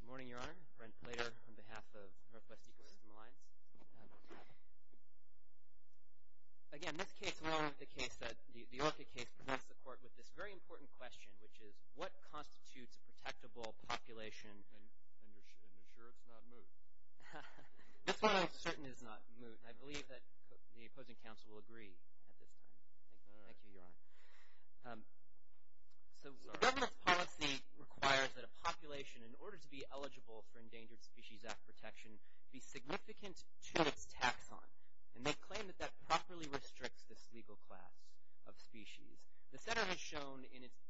Good morning, Your Honor. Brent Plater on behalf of Northwest Ecosystem Alliance. Again, this case along with the Orchid case presents the court with this very important question, which is, what constitutes a protectable population? And you're sure it's not moot? That's what I'm certain is not moot, and I believe that the opposing counsel will agree at this time. Thank you, Your Honor. So the government's policy requires that a population, in order to be eligible for Endangered Species Act protection, be significant to its taxon. And they claim that that properly restricts this legal class of species. The Center has shown in its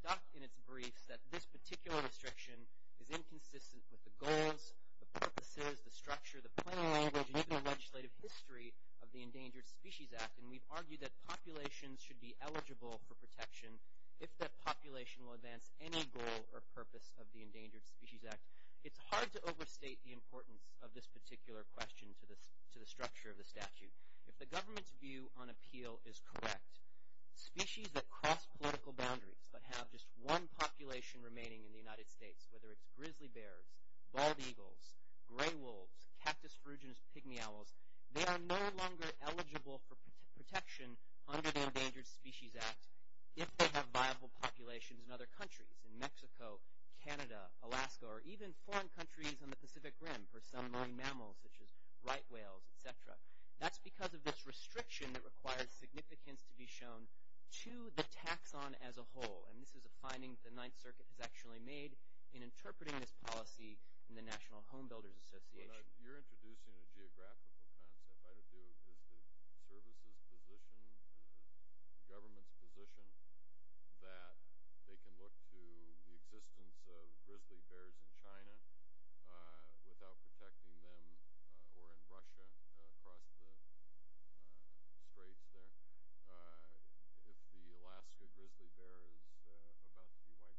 briefs that this particular restriction is inconsistent with the goals, the purposes, the structure, the plain language, and even the legislative history of the Endangered Species Act. And we've argued that populations should be eligible for protection if that population will advance any goal or purpose of the Endangered Species Act. It's hard to overstate the importance of this particular question to the structure of the statute. If the government's view on appeal is correct, species that cross political boundaries but have just one population remaining in the United States, whether it's grizzly bears, bald eagles, gray wolves, cactus phrygians, pygmy owls, they are no longer eligible for protection under the Endangered Species Act if they have viable populations in other countries, in Mexico, Canada, Alaska, or even foreign countries on the Pacific Rim for some marine mammals such as right whales, etc. That's because of this restriction that requires significance to be shown to the taxon as a whole. And this is a finding the Ninth Circuit has actually made in interpreting this policy in the National Home Builders Association. You're introducing a geographical concept. Is the government's position that they can look to the existence of grizzly bears in China without protecting them or in Russia across the straits there if the Alaska grizzly bear is about to be wiped out?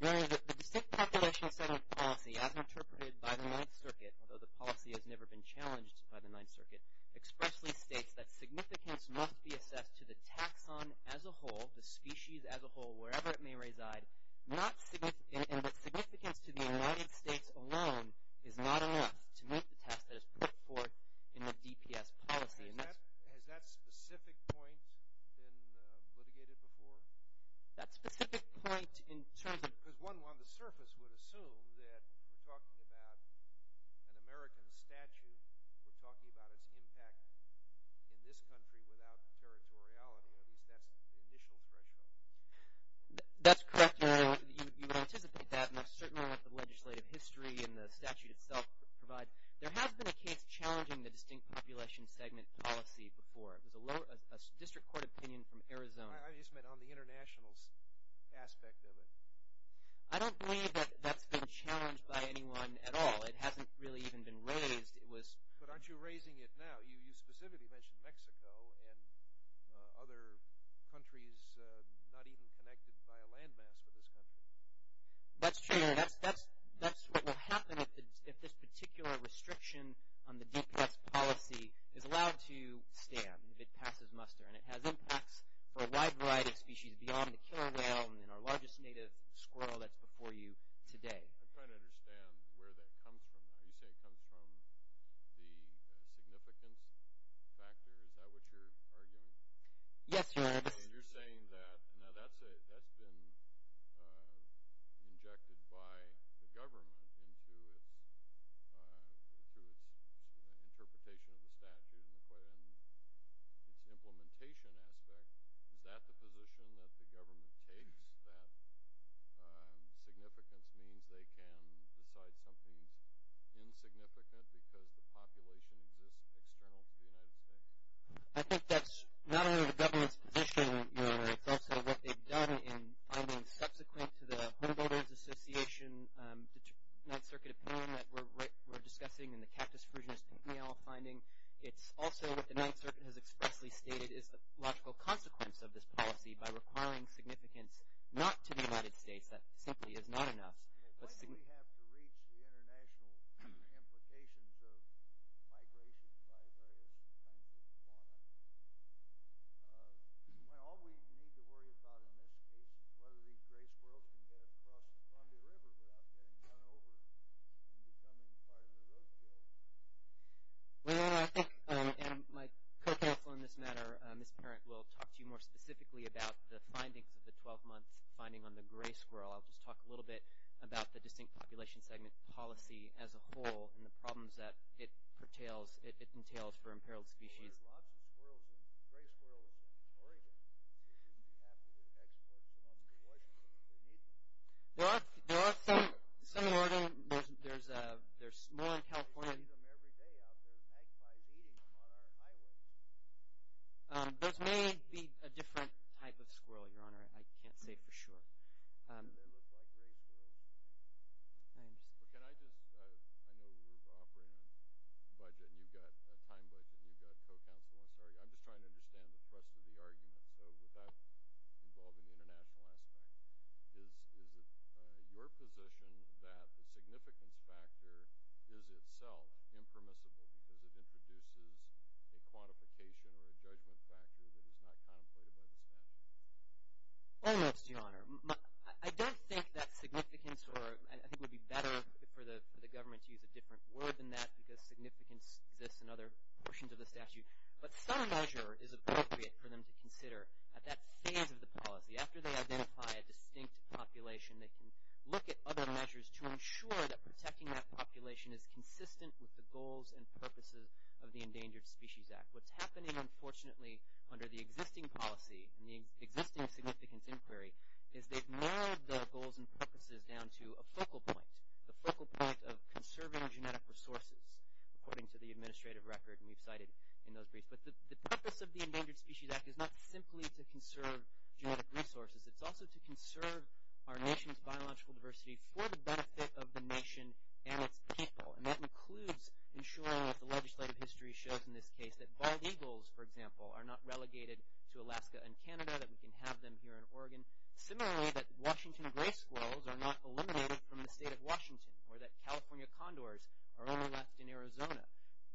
No, the distinct population settlement policy as interpreted by the Ninth Circuit, although the policy has never been challenged by the Ninth Circuit, expressly states that significance must be assessed to the taxon as a whole, the species as a whole, wherever it may reside, and that significance to the United States alone is not enough to meet the task that is put forth in the DPS policy. Has that specific point been litigated before? That specific point in terms of... Because one on the surface would assume that we're talking about an American statute. We're talking about its impact in this country without territoriality. That's the initial threshold. That's correct. You would anticipate that, and I certainly want the legislative history and the statute itself to provide. There has been a case challenging the distinct population segment policy before. It was a district court opinion from Arizona. I just meant on the international aspect of it. I don't believe that that's been challenged by anyone at all. It hasn't really even been raised. But aren't you raising it now? You specifically mentioned Mexico and other countries not even connected by a land mass for this country. That's true. That's what will happen if this particular restriction on the DPS policy is allowed to stand, if it passes muster, and it has impacts for a wide variety of species beyond the killer whale and our largest native squirrel that's before you today. I'm trying to understand where that comes from. Are you saying it comes from the significance factor? Is that what you're arguing? Yes, Your Honor. You're saying that. Now, that's been injected by the government into its interpretation of the statute and its implementation aspect. Is that the position that the government takes, that significance means they can decide something's insignificant because the population exists external to the United States? I think that's not only the government's position, Your Honor. It's also what they've done in findings subsequent to the Home Builders Association Ninth Circuit opinion that we're discussing in the Cactus Fruginus finding. It's also what the Ninth Circuit has expressly stated is the logical consequence of this policy by requiring significance not to the United States. That simply is not enough. Why do we have to reach the international implications of migration by various kinds of fauna? All we need to worry about in this case is whether these great squirrels can get across the Columbia River without getting run over and becoming part of the roadkill. Well, Your Honor, I think, and my co-counsel in this matter, Ms. Parent, will talk to you more specifically about the findings of the 12-month finding on the gray squirrel. I'll just talk a little bit about the distinct population segment policy as a whole and the problems that it entails for imperiled species. Well, there's lots of squirrels and gray squirrels in Oregon. They shouldn't have to be exported to Washington if they need to. There are some in Oregon. There's more in California. Those may be a different type of squirrel, Your Honor. I can't say for sure. is itself impermissible because it introduces a quantification or a judgment factor that is not contemplated by the statute. Almost, Your Honor. I don't think that significance, or I think it would be better for the government to use a different word than that because significance exists in other portions of the statute. But some measure is appropriate for them to consider at that phase of the policy. After they identify a distinct population, they can look at other measures to ensure that protecting that population is consistent with the goals and purposes of the Endangered Species Act. What's happening, unfortunately, under the existing policy and the existing significance inquiry is they've narrowed the goals and purposes down to a focal point, the focal point of conserving genetic resources, according to the administrative record, and we've cited in those briefs. But the purpose of the Endangered Species Act is not simply to conserve genetic resources. It's also to conserve our nation's biological diversity for the benefit of the nation and its people. And that includes ensuring that the legislative history shows in this case that bald eagles, for example, are not relegated to Alaska and Canada, that we can have them here in Oregon. Similarly, that Washington gray squirrels are not eliminated from the state of Washington or that California condors are only left in Arizona.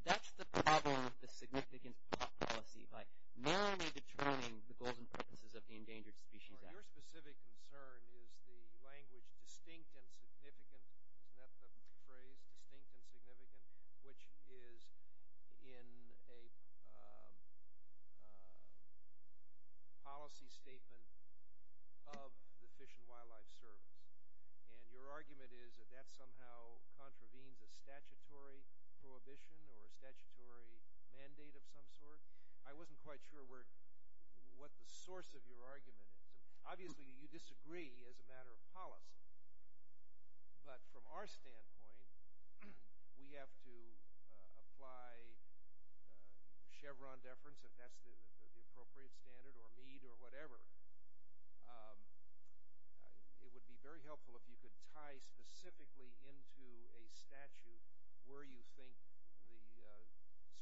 That's the problem with the significance policy, by narrowly determining the goals and purposes of the Endangered Species Act. Your specific concern is the language distinct and significant. Isn't that the phrase, distinct and significant, which is in a policy statement of the Fish and Wildlife Service? And your argument is that that somehow contravenes a statutory prohibition or a statutory mandate of some sort? I wasn't quite sure what the source of your argument is. Obviously, you disagree as a matter of policy. But from our standpoint, we have to apply Chevron deference, if that's the appropriate standard, or Mead or whatever. It would be very helpful if you could tie specifically into a statute where you think the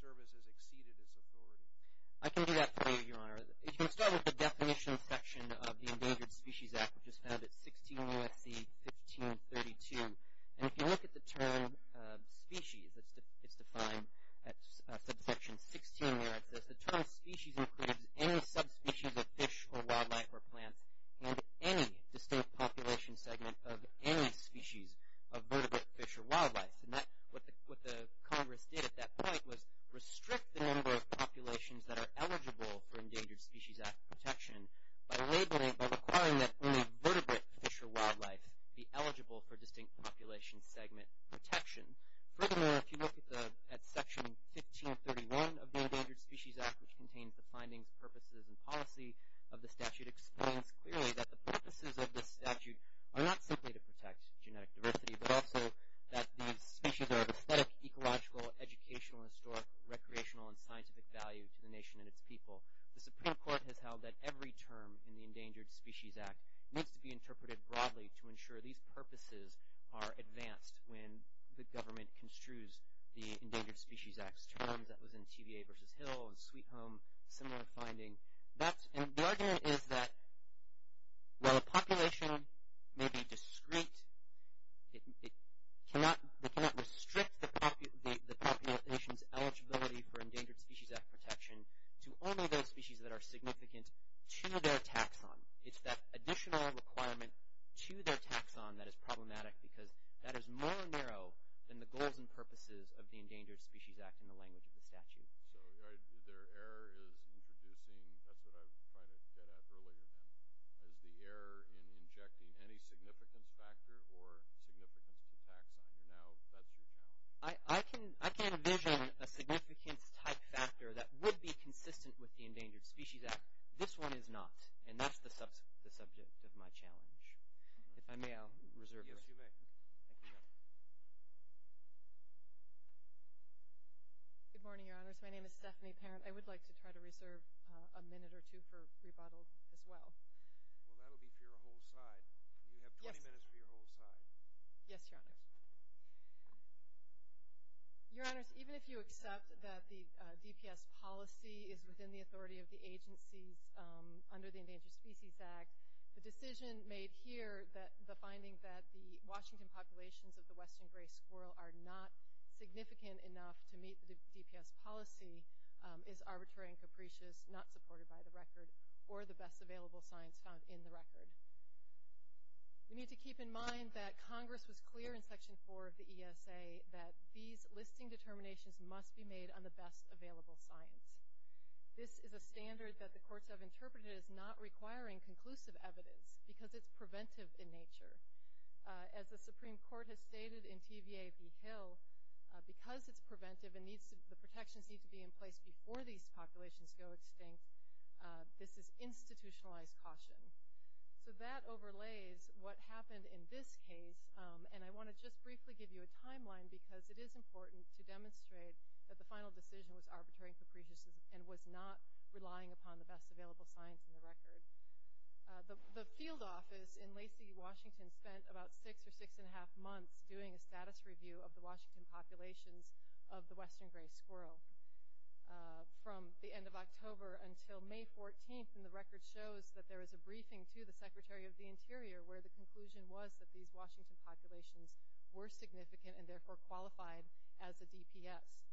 service has exceeded its authority. I can do that for you, Your Honor. You can start with the definition section of the Endangered Species Act, which is found at 16 U.S.C. 1532. And if you look at the term species, it's defined at subsection 16 where it says, the term species includes any subspecies of fish or wildlife or plants and any distinct population segment of any species of vertebrate fish or wildlife. And what the Congress did at that point was restrict the number of populations that are eligible for Endangered Species Act protection by requiring that only vertebrate fish or wildlife be eligible for distinct population segment protection. Furthermore, if you look at Section 1531 of the Endangered Species Act, which contains the findings, purposes, and policy of the statute, explains clearly that the purposes of this statute are not simply to protect genetic diversity, but also that these species are of aesthetic, ecological, educational, historic, recreational, and scientific value to the nation and its people. The Supreme Court has held that every term in the Endangered Species Act needs to be interpreted broadly to ensure these purposes are advanced when the government construes the Endangered Species Act's terms. That was in TVA v. Hill and Sweet Home, similar finding. The argument is that while a population may be discrete, they cannot restrict the population's eligibility for Endangered Species Act protection to only those species that are significant to their taxon. It's that additional requirement to their taxon that is problematic because that is more narrow than the goals and purposes of the Endangered Species Act in the language of the statute. So their error is introducing, that's what I was trying to get at earlier then, is the error in injecting any significance factor or significance to taxon, and now that's your challenge. I can envision a significance type factor that would be consistent with the Endangered Species Act. This one is not, and that's the subject of my challenge. If I may, I'll reserve this. Yes, you may. Thank you. Good morning, Your Honors. My name is Stephanie Parent. I would like to try to reserve a minute or two for rebuttal as well. Well, that will be for your whole side. You have 20 minutes for your whole side. Yes, Your Honors. Your Honors, even if you accept that the DPS policy is within the authority of the agencies under the Endangered Species Act, the decision made here that the finding that the Washington populations of the western gray squirrel are not significant enough to meet the DPS policy is arbitrary and capricious, not supported by the record or the best available science found in the record. We need to keep in mind that Congress was clear in Section 4 of the ESA that these listing determinations must be made on the best available science. This is a standard that the courts have interpreted as not requiring conclusive evidence because it's preventive in nature. As the Supreme Court has stated in TVA v. Hill, because it's preventive and the protections need to be in place before these populations go extinct, this is institutionalized caution. So that overlays what happened in this case, and I want to just briefly give you a timeline because it is important to demonstrate that the final decision was arbitrary and capricious and was not relying upon the best available science in the record. The field office in Lacey, Washington, spent about six or six and a half months doing a status review of the Washington populations of the western gray squirrel. From the end of October until May 14th, and the record shows that there was a briefing to the Secretary of the Interior where the conclusion was that these Washington populations were significant and therefore qualified as a DPS.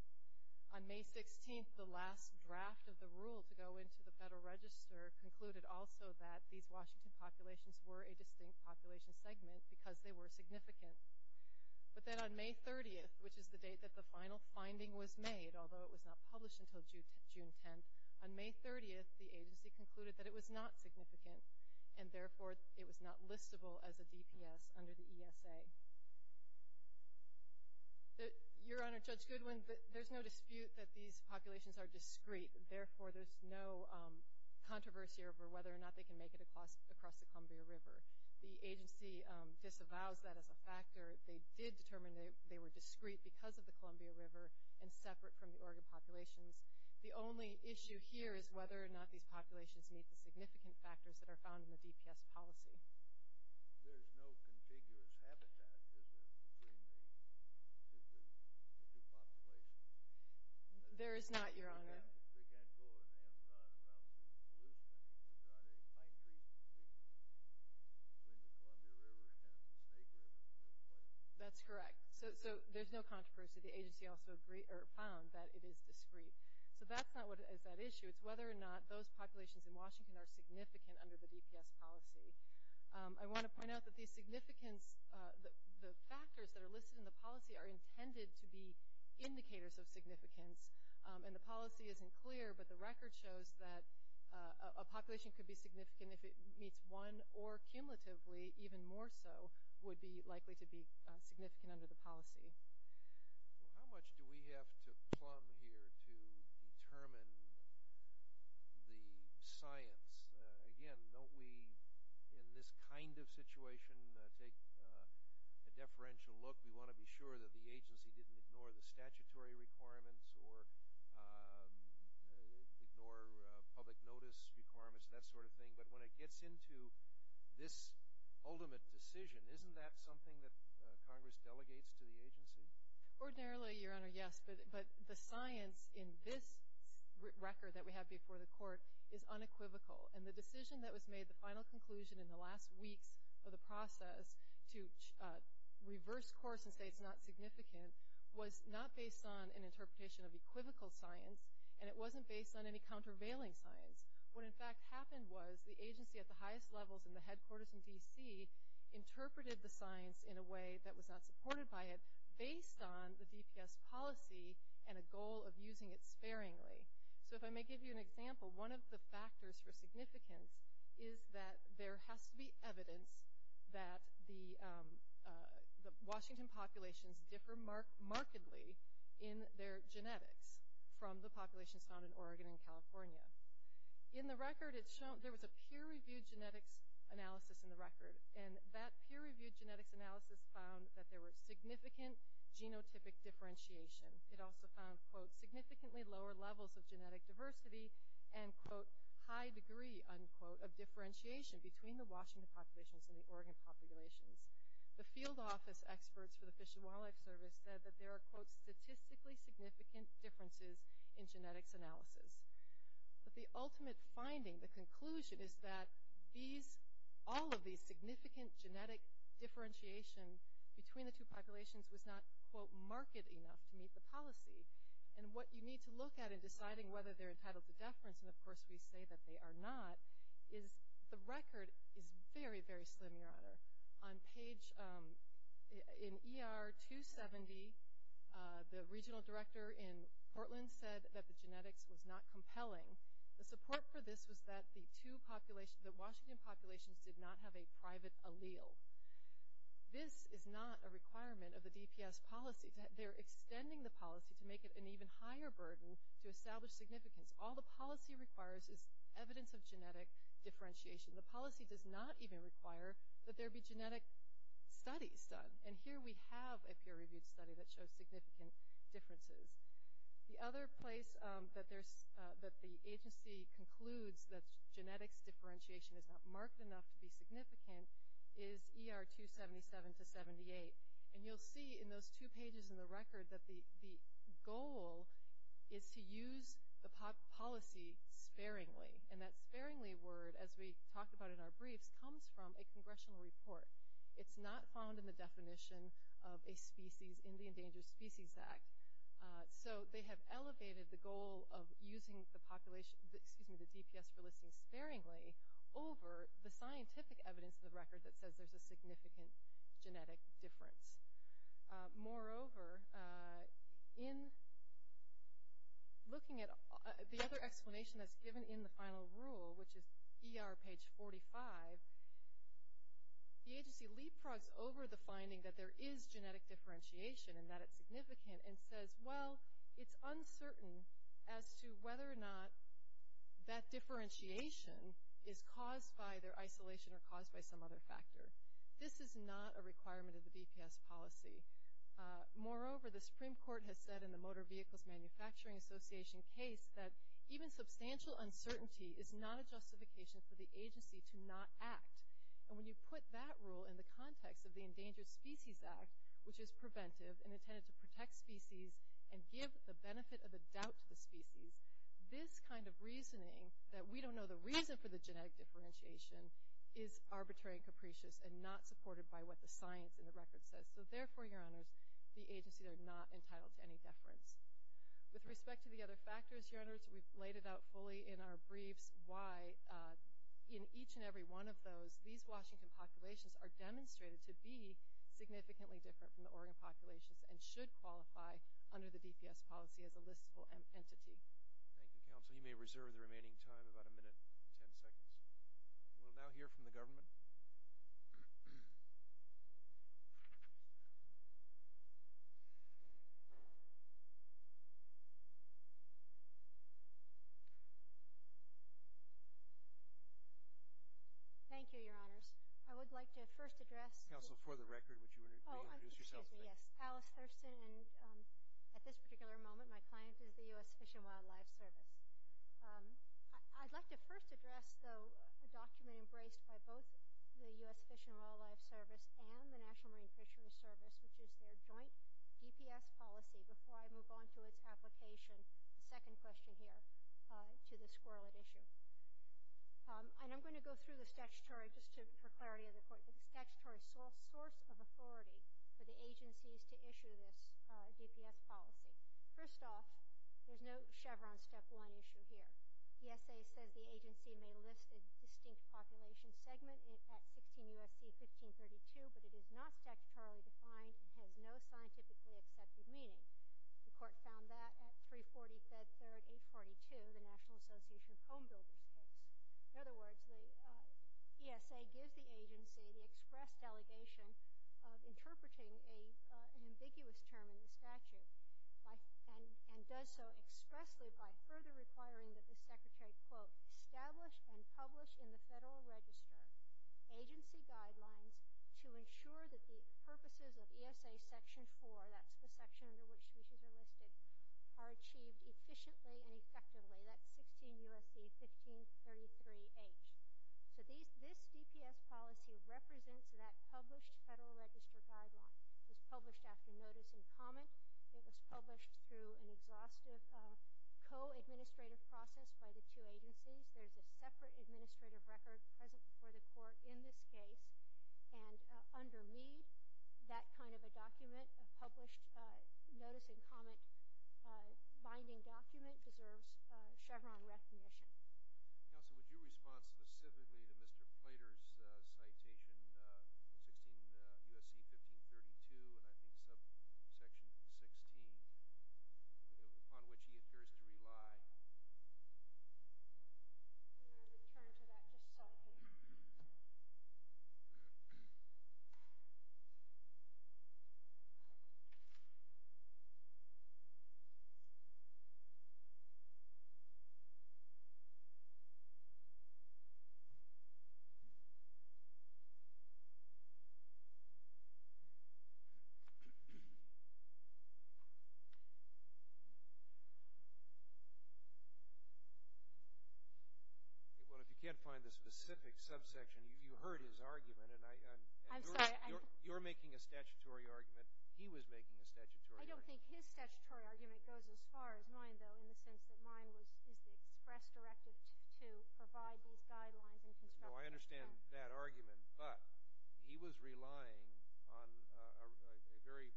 On May 16th, the last draft of the rule to go into the Federal Register concluded also that these Washington populations were a distinct population segment because they were significant. But then on May 30th, which is the date that the final finding was made, although it was not published until June 10th, on May 30th the agency concluded that it was not significant and therefore it was not listable as a DPS under the ESA. Your Honor, Judge Goodwin, there's no dispute that these populations are discrete, therefore there's no controversy over whether or not they can make it across the Columbia River. The agency disavows that as a factor. They did determine that they were discrete because of the Columbia River and separate from the Oregon populations. The only issue here is whether or not these populations meet the significant factors that are found in the DPS policy. There is no contiguous habitat between the two populations. There is not, Your Honor. They can't go and have none of the pollution. There's not any pine trees between the Columbia River and the Snake River. That's correct. So there's no controversy. The agency also found that it is discrete. So that's not what is at issue. It's whether or not those populations in Washington are significant under the DPS policy. I want to point out that these significance, the factors that are listed in the policy are intended to be indicators of significance, and the policy isn't clear, but the record shows that a population could be significant if it meets one or cumulatively even more so would be likely to be significant under the policy. How much do we have to plumb here to determine the science? Again, don't we in this kind of situation take a deferential look? We want to be sure that the agency didn't ignore the statutory requirements or ignore public notice requirements, that sort of thing. But when it gets into this ultimate decision, isn't that something that Congress delegates to the agency? Ordinarily, Your Honor, yes, but the science in this record that we have before the court is unequivocal. And the decision that was made, the final conclusion in the last weeks of the process, to reverse course and say it's not significant was not based on an interpretation of equivocal science, and it wasn't based on any countervailing science. What, in fact, happened was the agency at the highest levels in the headquarters in D.C. interpreted the science in a way that was not supported by it based on the DPS policy and a goal of using it sparingly. So if I may give you an example, one of the factors for significance is that there has to be evidence that the Washington populations differ markedly in their genetics from the populations found in Oregon and California. There was a peer-reviewed genetics analysis in the record, and that peer-reviewed genetics analysis found that there was significant genotypic differentiation. It also found, quote, significantly lower levels of genetic diversity and, quote, high degree, unquote, of differentiation between the Washington populations and the Oregon populations. differences in genetics analysis. But the ultimate finding, the conclusion, is that all of these significant genetic differentiation between the two populations was not, quote, markedly enough to meet the policy. And what you need to look at in deciding whether they're entitled to deference, and of course we say that they are not, is the record is very, very slim, Your Honor. On page, in ER 270, the regional director in Portland said that the genetics was not compelling. The support for this was that the two populations, the Washington populations did not have a private allele. This is not a requirement of the DPS policy. They're extending the policy to make it an even higher burden to establish significance. All the policy requires is evidence of genetic differentiation. The policy does not even require that there be genetic studies done. And here we have a peer-reviewed study that shows significant differences. The other place that the agency concludes that genetics differentiation is not marked enough to be significant is ER 277 to 78. And you'll see in those two pages in the record that the goal is to use the policy sparingly. And that sparingly word, as we talked about in our briefs, comes from a congressional report. It's not found in the definition of a species in the Endangered Species Act. So they have elevated the goal of using the DPS for listing sparingly over the scientific evidence in the record that says there's a significant genetic difference. Moreover, in looking at the other explanation that's given in the final rule, which is ER page 45, the agency leapfrogs over the finding that there is genetic differentiation and that it's significant and says, well, it's uncertain as to whether or not that differentiation is caused by their isolation or caused by some other factor. This is not a requirement of the DPS policy. Moreover, the Supreme Court has said in the Motor Vehicles Manufacturing Association case that even substantial uncertainty is not a justification for the agency to not act. And when you put that rule in the context of the Endangered Species Act, which is preventive and intended to protect species and give the benefit of the doubt to the species, this kind of reasoning that we don't know the reason for the genetic differentiation is arbitrary and capricious and not supported by what the science in the record says. So therefore, Your Honors, the agencies are not entitled to any deference. With respect to the other factors, Your Honors, we've laid it out fully in our briefs why in each and every one of those, these Washington populations are demonstrated to be significantly different from the Oregon populations and should qualify under the DPS policy as a listable entity. Thank you, Counsel. You may reserve the remaining time, about a minute and ten seconds. We'll now hear from the government. Thank you, Your Honors. I would like to first address... Counsel, for the record, would you introduce yourself? Excuse me, yes. Alice Thurston, and at this particular moment, my client is the U.S. Fish and Wildlife Service. I'd like to first address, though, a document embraced by both the U.S. Fish and Wildlife Service and the National Marine Fisheries Service, which is their joint DPS policy, before I move on to its application, the second question here, to the squirrel at issue. And I'm going to go through the statutory, just for clarity of the court, the statutory source of authority for the agencies to issue this DPS policy. First off, there's no Chevron step one issue here. The ESA says the agency may list a distinct population segment at 16 U.S.C. 1532, but it is not statutorily defined and has no scientifically accepted meaning. The court found that at 340 Fed Third 842, the National Association of Homebuilding Codes. In other words, the ESA gives the agency the express delegation of interpreting an ambiguous term in the statute and does so expressly by further requiring that the secretary, quote, establish and publish in the Federal Register agency guidelines to ensure that the purposes of ESA Section 4, that's the section under which issues are listed, are achieved efficiently and effectively. That's 16 U.S.C. 1533H. So this DPS policy represents that published Federal Register guideline. It was published after notice and comment. It was published through an exhaustive co-administrative process by the two agencies. There's a separate administrative record present before the court in this case. And under me, that kind of a document, a published notice and comment binding document, deserves Chevron recognition. Counsel, would you respond specifically to Mr. Plater's citation, 16 U.S.C. 1532, and I think subsection 16, upon which he appears to rely? I'm going to return to that just a second. Well, if you can't find the specific subsection, you heard his argument. I'm sorry. You're making a statutory argument. He was making a statutory argument. I don't think his statutory argument goes as far as mine, though, in the sense that mine is the express directive to provide these guidelines and construct them. No, I understand that argument. But he was relying on a very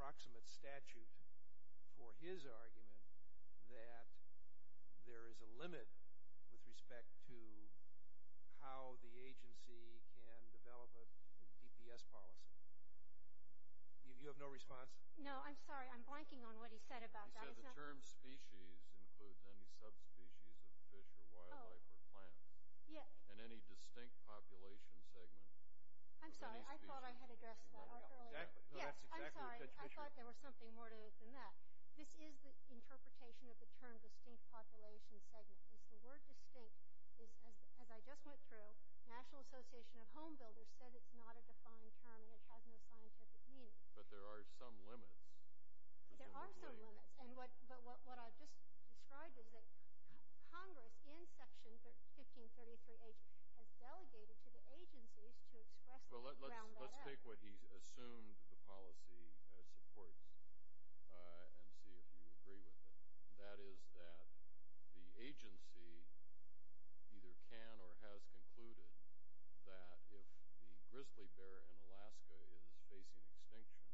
proximate statute for his argument that there is a limit with respect to how the agency can develop a DPS policy. You have no response? No, I'm sorry. I'm blanking on what he said about that. He said the term species includes any subspecies of fish or wildlife or plant. Yes. And any distinct population segment. I'm sorry. I thought I had addressed that earlier. Yes, I'm sorry. I thought there was something more to it than that. This is the interpretation of the term distinct population segment. It's the word distinct. As I just went through, National Association of Home Builders said it's not a defined term and it has no scientific meaning. But there are some limits. There are some limits. But what I just described is that Congress, in Section 1533H, has delegated to the agencies to express them around that act. Let's take what he assumed the policy supports and see if you agree with it. That is that the agency either can or has concluded that if the grizzly bear in Alaska is facing extinction,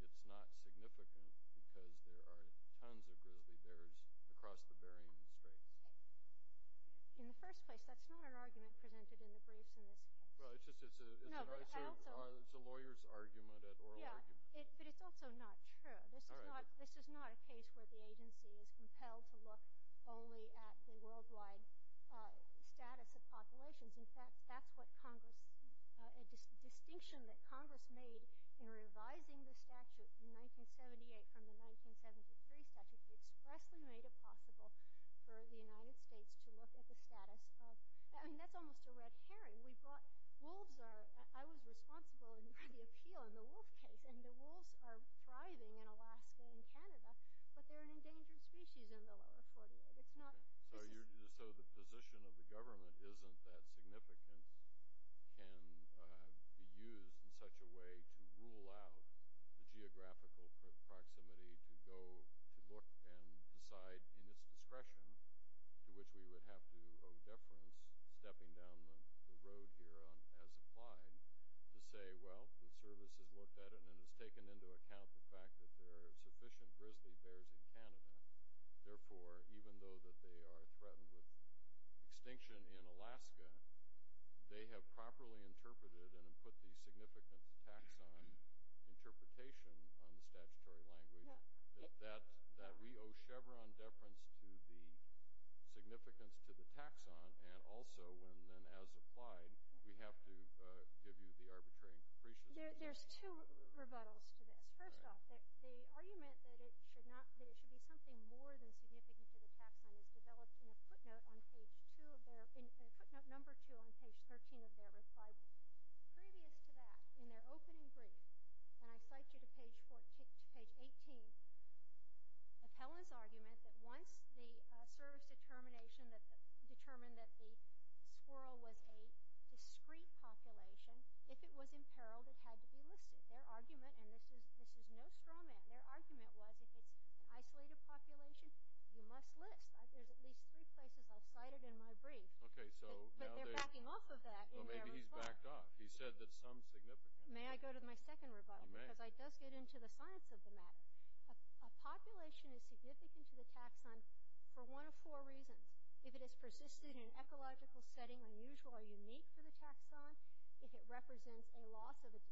it's not significant because there are tons of grizzly bears across the Bering Strait. In the first place, that's not an argument presented in the briefs in this case. It's a lawyer's argument, an oral argument. But it's also not true. This is not a case where the agency is compelled to look only at the worldwide status of populations. In fact, that's what Congress, a distinction that Congress made in revising the statute in 1978 from the 1973 statute, expressly made it possible for the United States to look at the status of, I mean, that's almost a red herring. I was responsible for the appeal in the wolf case, and the wolves are thriving in Alaska and Canada, but they're an endangered species in the lower 48. So the position of the government isn't that significant and can be used in such a way to rule out the geographical proximity to go to look and decide in its discretion, to which we would have to owe deference, stepping down the road here as applied, to say, well, the service has looked at it and has taken into account the fact that there are sufficient grizzly bears in Canada. Therefore, even though that they are threatened with extinction in Alaska, they have properly interpreted and put the significant taxon interpretation on the statutory language. That we owe Chevron deference to the significance to the taxon, and also, when then as applied, we have to give you the arbitrary increases. There's two rebuttals to this. First off, the argument that it should be something more than significant to the taxon is developed in a footnote number two on page 13 of their reply. Previous to that, in their opening brief, and I cite you to page 18, Appella's argument that once the service determination determined that the squirrel was a discrete population, if it was imperiled, it had to be listed. Their argument, and this is no straw man, their argument was if it's an isolated population, you must list. There's at least three places I've cited in my brief. But they're backing off of that in their rebuttal. Maybe he's backed off. He said that it's unsignificant. May I go to my second rebuttal? You may. Because it does get into the science of the matter. A population is significant to the taxon for one of four reasons. If it has persisted in an ecological setting unusual or unique to the taxon, if it represents a loss that would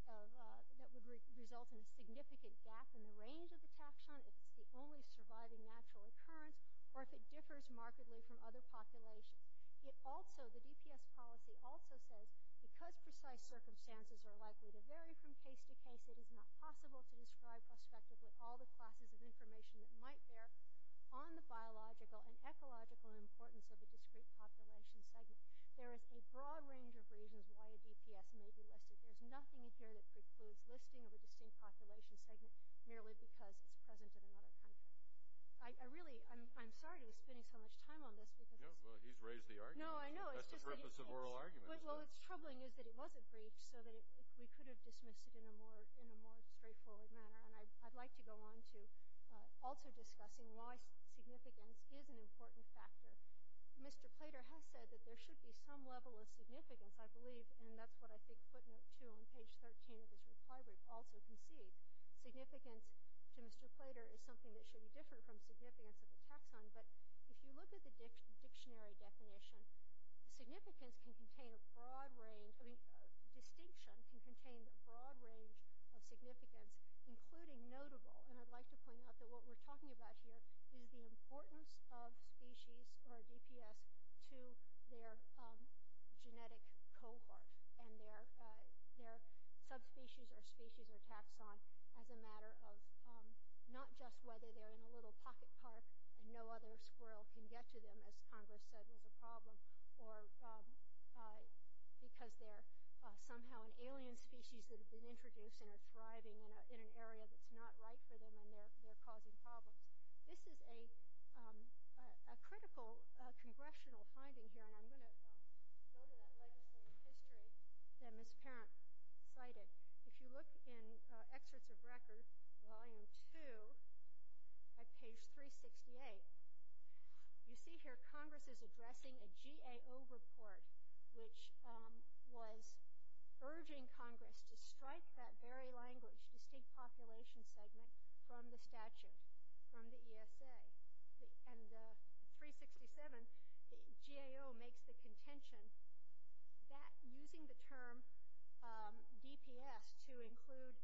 result in a significant gap in the range of the taxon, if it's the only surviving natural occurrence, or if it differs markedly from other populations. It also, the DPS policy also says because precise circumstances are likely to vary from case to case, it is not possible to describe prospectively all the classes of information that might bear on the biological and ecological importance of a discrete population segment. There is a broad range of reasons why a DPS may be listed. There's nothing in here that precludes listing of a distinct population segment merely because it's present in another country. I really, I'm sorry to be spending so much time on this. Well, he's raised the argument. No, I know. That's the purpose of oral arguments. Well, what's troubling is that it wasn't briefed so that we could have dismissed it in a more straightforward manner. And I'd like to go on to also discussing why significance is an important factor. Mr. Plater has said that there should be some level of significance, I believe, and that's what I think footnote two on page 13 of his reply brief also concedes. Significance to Mr. Plater is something that should be different from significance at the taxon. But if you look at the dictionary definition, significance can contain a broad range, I mean distinction can contain a broad range of significance, including notable. And I'd like to point out that what we're talking about here is the importance of species or DPS to their genetic cohort. And their subspecies or species or taxon as a matter of not just whether they're in a little pocket car and no other squirrel can get to them, as Congress said was a problem, or because they're somehow an alien species that have been introduced and are thriving in an area that's not right for them and they're causing problems. This is a critical congressional finding here, and I'm going to go to that legislative history that Ms. Parent cited. If you look in excerpts of record, volume two, at page 368, you see here Congress is addressing a GAO report, which was urging Congress to strike that very language, distinct population segment, from the statute, from the ESA. And 367, the GAO makes the contention that using the term DPS to include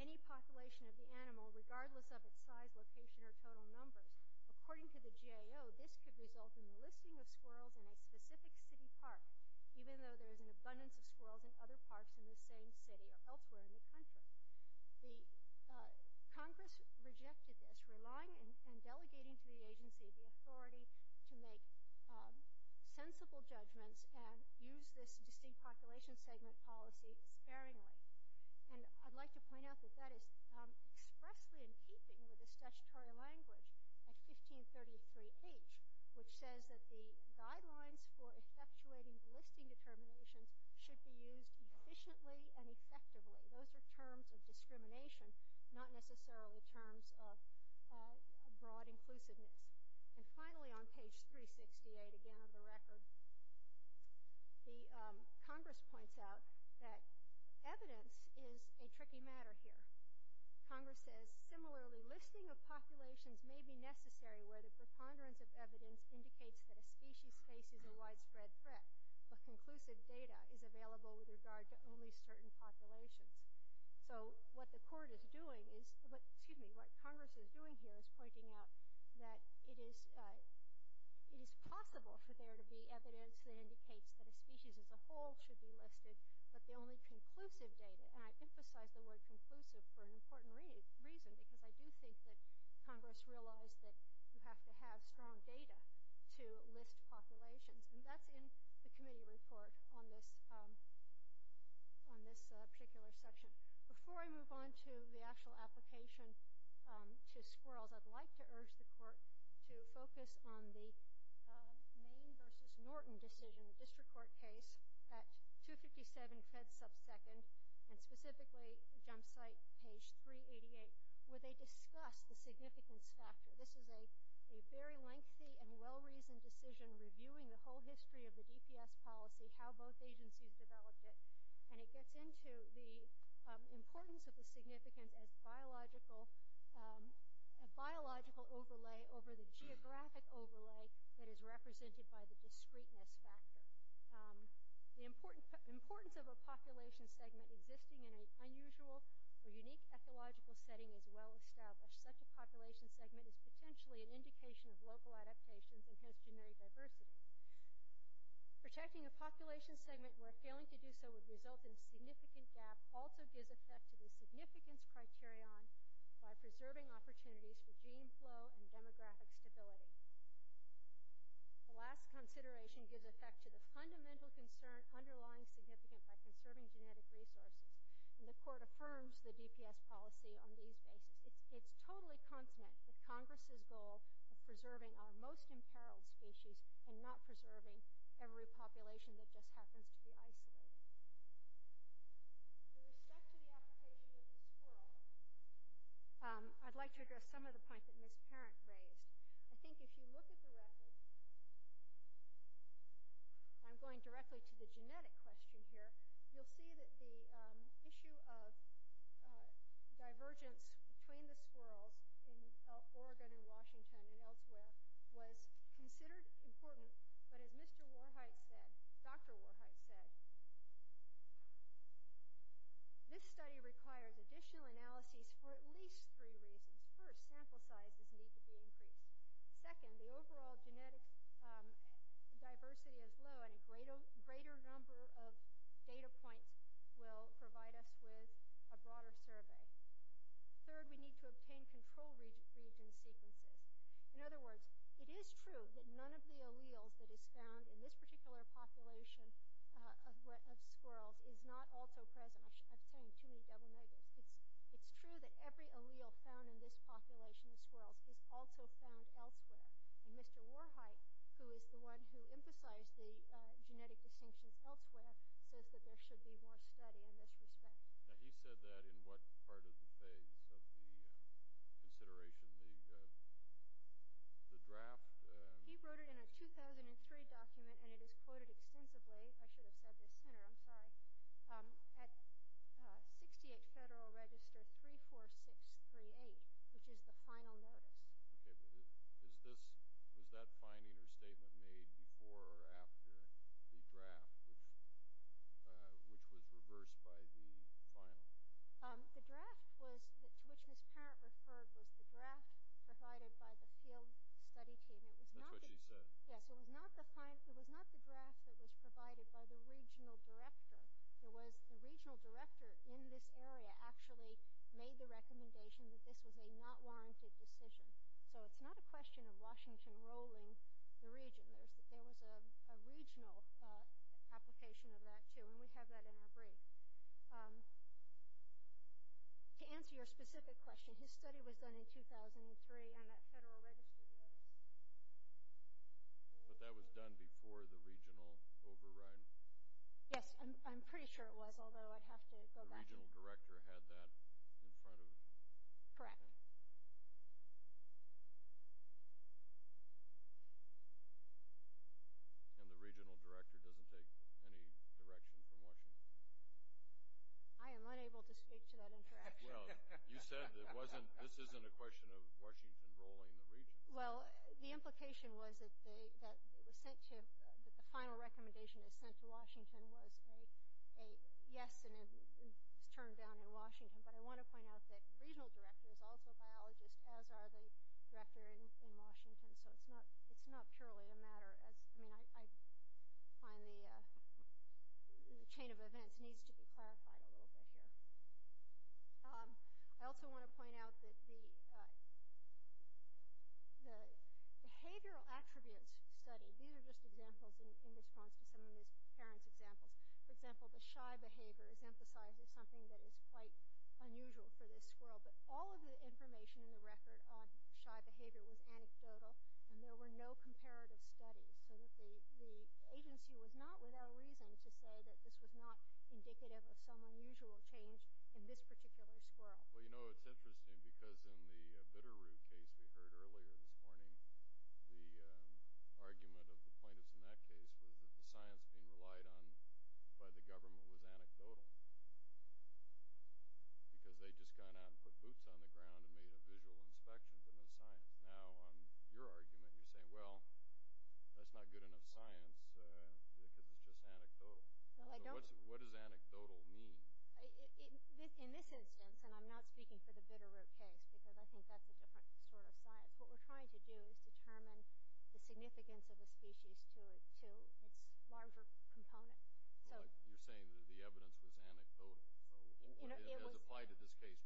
any population of the animal, regardless of its size, location, or total numbers, according to the GAO, this could result in the listing of squirrels in a specific city park, even though there's an abundance of squirrels in other parks in the same city or elsewhere in the country. Congress rejected this, relying and delegating to the agency the authority to make sensible judgments and use this distinct population segment policy sparingly. And I'd like to point out that that is expressly in keeping with the statutory language at 1533H, which says that the guidelines for effectuating the listing determinations should be used efficiently and effectively. Those are terms of discrimination, not necessarily terms of broad inclusiveness. And finally, on page 368, again, of the record, Congress points out that evidence is a tricky matter here. Congress says, similarly, listing of populations may be necessary where the preponderance of evidence indicates that a species faces a widespread threat, but conclusive data is available with regard to only certain populations. So what the court is doing is – excuse me, what Congress is doing here is pointing out that it is possible for there to be evidence that indicates that a species as a whole should be listed, but the only conclusive data – and I emphasize the word conclusive for an important reason, because I do think that Congress realized that you have to have strong data to list populations. And that's in the committee report on this particular section. Before I move on to the actual application to squirrels, I'd like to urge the court to focus on the Maine v. Norton decision, the district court case at 257 Fred's subsecond, and specifically jump site page 388, where they discuss the significance factor. This is a very lengthy and well-reasoned decision reviewing the whole history of the DPS policy, how both agencies developed it, and it gets into the importance of the significant biological overlay over the geographic overlay that is represented by the discreteness factor. The importance of a population segment existing in an unusual or unique ecological setting is well-established. Such a population segment is potentially an indication of local adaptations and host generic diversity. Protecting a population segment where failing to do so would result in a significant gap also gives effect to the significance criterion by preserving opportunities for gene flow and demographic stability. The last consideration gives effect to the fundamental concern underlying significance by conserving genetic resources, and the court affirms the DPS policy on these bases. It's totally consonant with Congress' goal of preserving our most imperiled species and not preserving every population that just happens to be isolated. With respect to the application of squirrels, I'd like to address some of the points that Ms. Parent raised. I think if you look at the record, I'm going directly to the genetic question here, you'll see that the issue of divergence between the squirrels in Oregon and Washington and elsewhere was considered important, but as Mr. Warheit said, Dr. Warheit said, this study requires additional analyses for at least three reasons. First, sample sizes need to be increased. Second, the overall genetic diversity is low and a greater number of data points will provide us with a broader survey. Third, we need to obtain control region sequences. In other words, it is true that none of the alleles that is found in this particular population of squirrels is not also present. I'm saying too many double negatives. It's true that every allele found in this population of squirrels is also found elsewhere, and Mr. Warheit, who is the one who emphasized the genetic distinctions elsewhere, says that there should be more study in this respect. Now, he said that in what part of the phase of the consideration, the draft? He wrote it in a 2003 document, and it is quoted extensively. I should have said the center. I'm sorry. At 68 Federal Register 34638, which is the final notice. Okay. Was that finding or statement made before or after the draft, which was reversed by the final? The draft to which Ms. Parent referred was the draft provided by the field study team. That's what she said. Yes. It was not the draft that was provided by the regional director. It was the regional director in this area actually made the recommendation that this was a not warranted decision. So it's not a question of Washington ruling the region. There was a regional application of that, too, and we have that in our brief. To answer your specific question, his study was done in 2003, and that Federal Registry. But that was done before the regional override. Yes. I'm pretty sure it was, although I'd have to go back. The regional director had that in front of him. Correct. And the regional director doesn't take any direction from Washington? I am unable to speak to that interaction. Well, you said this isn't a question of Washington ruling the region. Well, the implication was that the final recommendation that was sent to Washington was a yes and it was turned down in Washington. But I want to point out that the regional director is also a biologist, as are the directors in Washington. So it's not purely a matter. I mean, I find the chain of events needs to be clarified a little bit here. I also want to point out that the behavioral attributes study, these are just examples in response to some of these parents' examples. For example, the shy behavior is emphasized as something that is quite unusual for this squirrel. But all of the information in the record on shy behavior was anecdotal, and there were no comparative studies. So the agency was not without reason to say that this was not indicative of some unusual change in this particular squirrel. Well, you know, it's interesting because in the bitterroot case we heard earlier this morning, the argument of the plaintiffs in that case was that the science being relied on by the government was anecdotal because they just got out and put boots on the ground and made a visual inspection, but no science. Now, on your argument, you're saying, well, that's not good enough science if it was just anecdotal. So what does anecdotal mean? In this instance, and I'm not speaking for the bitterroot case because I think that's a different sort of science, but what we're trying to do is determine the significance of a species to its larger component. You're saying that the evidence was anecdotal. As applied to this case,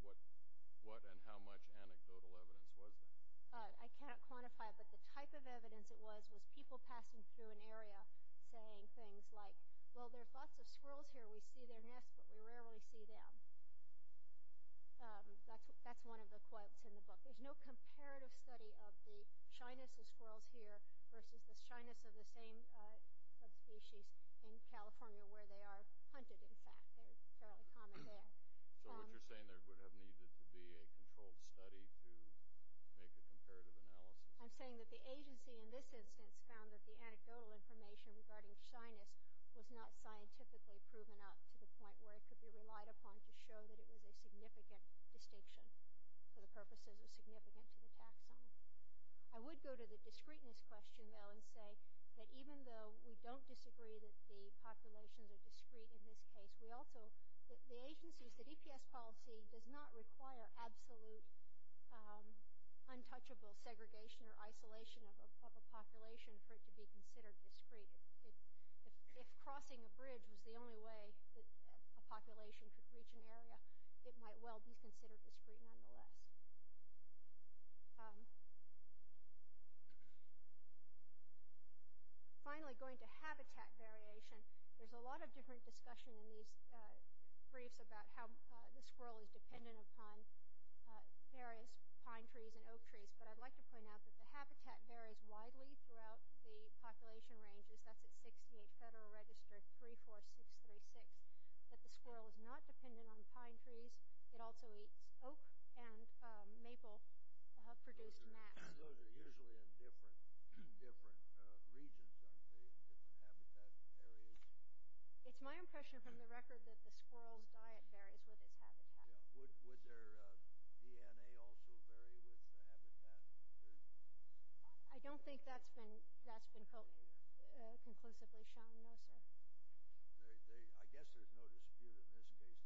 what and how much anecdotal evidence was there? I cannot quantify it, but the type of evidence it was was people passing through an area saying things like, well, there are lots of squirrels here. We see their nests, but we rarely see them. That's one of the quotes in the book. There's no comparative study of the shyness of squirrels here versus the shyness of the same species in California where they are hunted, in fact. They're fairly common there. So what you're saying, there would have needed to be a controlled study to make a comparative analysis. I'm saying that the agency in this instance found that the anecdotal information regarding shyness was not scientifically proven up to the point where it could be relied upon to show that it was a significant distinction for the purposes of significance to the taxon. I would go to the discreteness question, though, and say that even though we don't disagree that the populations are discrete in this case, we also – the agencies, the DPS policy does not require absolute untouchable segregation or isolation of a population for it to be considered discrete. If crossing a bridge was the only way a population could reach an area, it might well be considered discrete nonetheless. Finally, going to habitat variation, there's a lot of different discussion in these briefs about how the squirrel is dependent upon various pine trees and oak trees, but I'd like to point out that the habitat varies widely throughout the population ranges. That's at 68 Federal Register 34636, that the squirrel is not dependent on pine trees. It also eats oak and maple-produced mass. Those are usually in different regions, aren't they, in different habitat areas? It's my impression from the record that the squirrel's diet varies with its habitat. Would their DNA also vary with the habitat? I don't think that's been conclusively shown, no, sir. I guess there's no dispute in this case.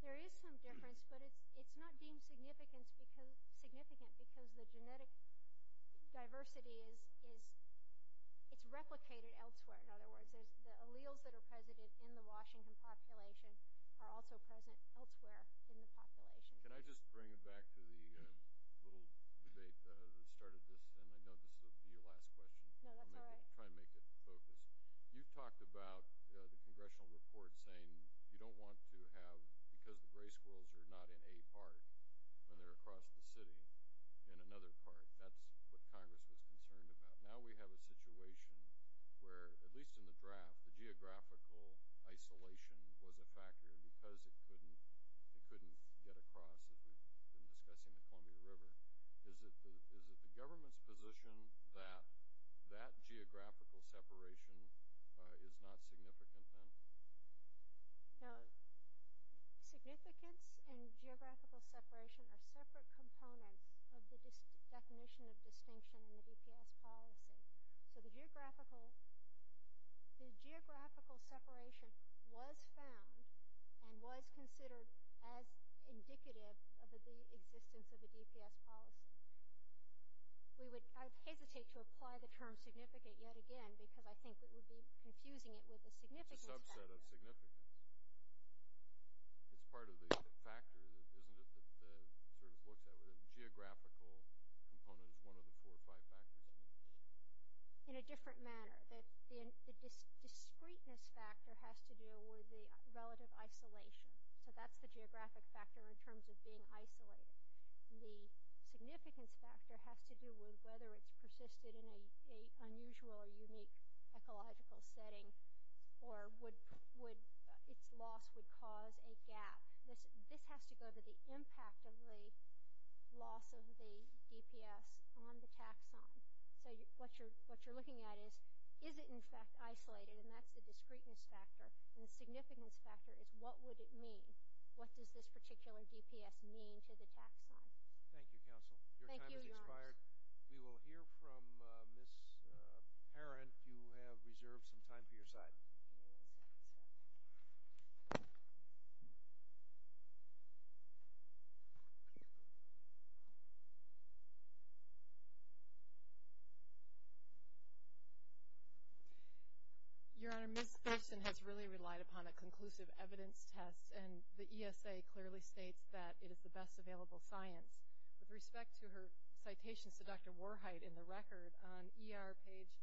There is some difference in the genetic studies of the two different areas, different regions. There is some difference, but it's not deemed significant because the genetic diversity is replicated elsewhere. In other words, the alleles that are present in the Washington population are also present elsewhere in the population. Can I just bring it back to the little debate that started this, and I know this will be your last question. No, that's all right. I'll try and make it focus. You talked about the congressional report saying you don't want to have, because the gray squirrels are not in a part when they're across the city, in another part. That's what Congress was concerned about. Now we have a situation where, at least in the draft, the geographical isolation was a factor because it couldn't get across, as we've been discussing, the Columbia River. Is it the government's position that that geographical separation is not significant then? No. Significance and geographical separation are separate components of the definition of distinction in the DPS policy. So the geographical separation was found and was considered as indicative of the existence of the DPS policy. I hesitate to apply the term significant yet again because I think it would be confusing it with the significance factor. It's a subset of significance. It's part of the factor, isn't it, that sort of looks at it? The geographical component is one of the four or five factors, I mean. In a different manner. The discreteness factor has to do with the relative isolation. So that's the geographic factor in terms of being isolated. The significance factor has to do with whether it's persisted in an unusual or unique ecological setting or its loss would cause a gap. This has to go to the impact of the loss of the DPS on the taxon. So what you're looking at is, is it in fact isolated? And that's the discreteness factor. And the significance factor is what would it mean? What does this particular DPS mean to the taxon? Thank you, counsel. Your time has expired. We will hear from Ms. Parent. You have reserved some time for your side. Your Honor, Ms. Thurston has really relied upon a conclusive evidence test. And the ESA clearly states that it is the best available science. With respect to her citations to Dr. Warheit in the record, on ER page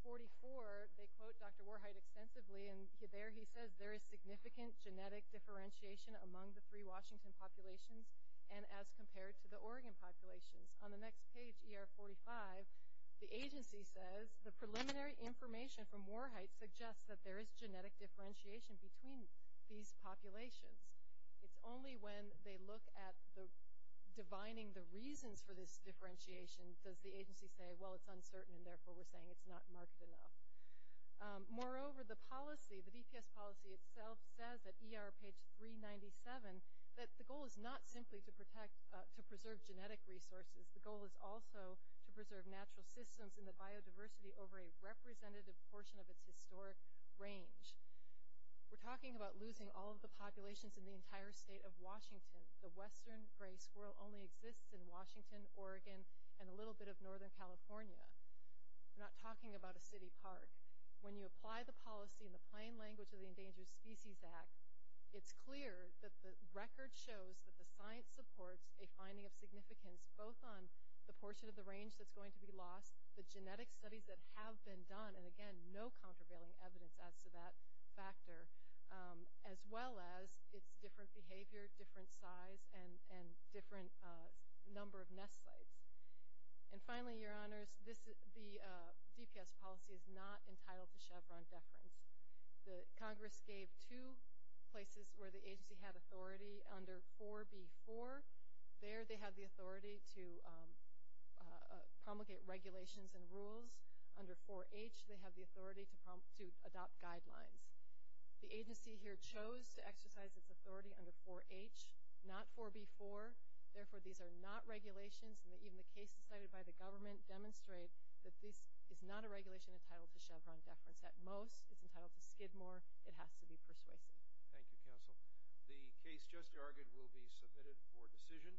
44, they quote Dr. Warheit extensively. And there he says, there is significant genetic differentiation among the three Washington populations and as compared to the Oregon populations. On the next page, ER 45, the agency says, the preliminary information from Warheit suggests that there is genetic differentiation between these populations. It's only when they look at divining the reasons for this differentiation, does the agency say, well, it's uncertain, and therefore we're saying it's not marked enough. Moreover, the policy, the DPS policy itself says at ER page 397, that the goal is not simply to preserve genetic resources. The goal is also to preserve natural systems and the biodiversity over a representative portion of its historic range. We're talking about losing all of the populations in the entire state of Washington. The western gray squirrel only exists in Washington, Oregon, and a little bit of northern California. We're not talking about a city park. When you apply the policy in the plain language of the Endangered Species Act, it's clear that the record shows that the science supports a finding of significance, both on the portion of the range that's going to be lost, the genetic studies that have been done, and again, no countervailing evidence as to that factor, as well as its different behavior, different size, and different number of nest sites. And finally, your honors, the DPS policy is not entitled to Chevron deference. Congress gave two places where the agency had authority under 4B4. There they have the authority to promulgate regulations and rules. Under 4H, they have the authority to adopt guidelines. The agency here chose to exercise its authority under 4H, not 4B4. Therefore, these are not regulations, and even the cases cited by the government demonstrate that this is not a regulation entitled to Chevron deference. At most, it's entitled to Skidmore. It has to be persuasive. Thank you, counsel. The case just argued will be submitted for decision.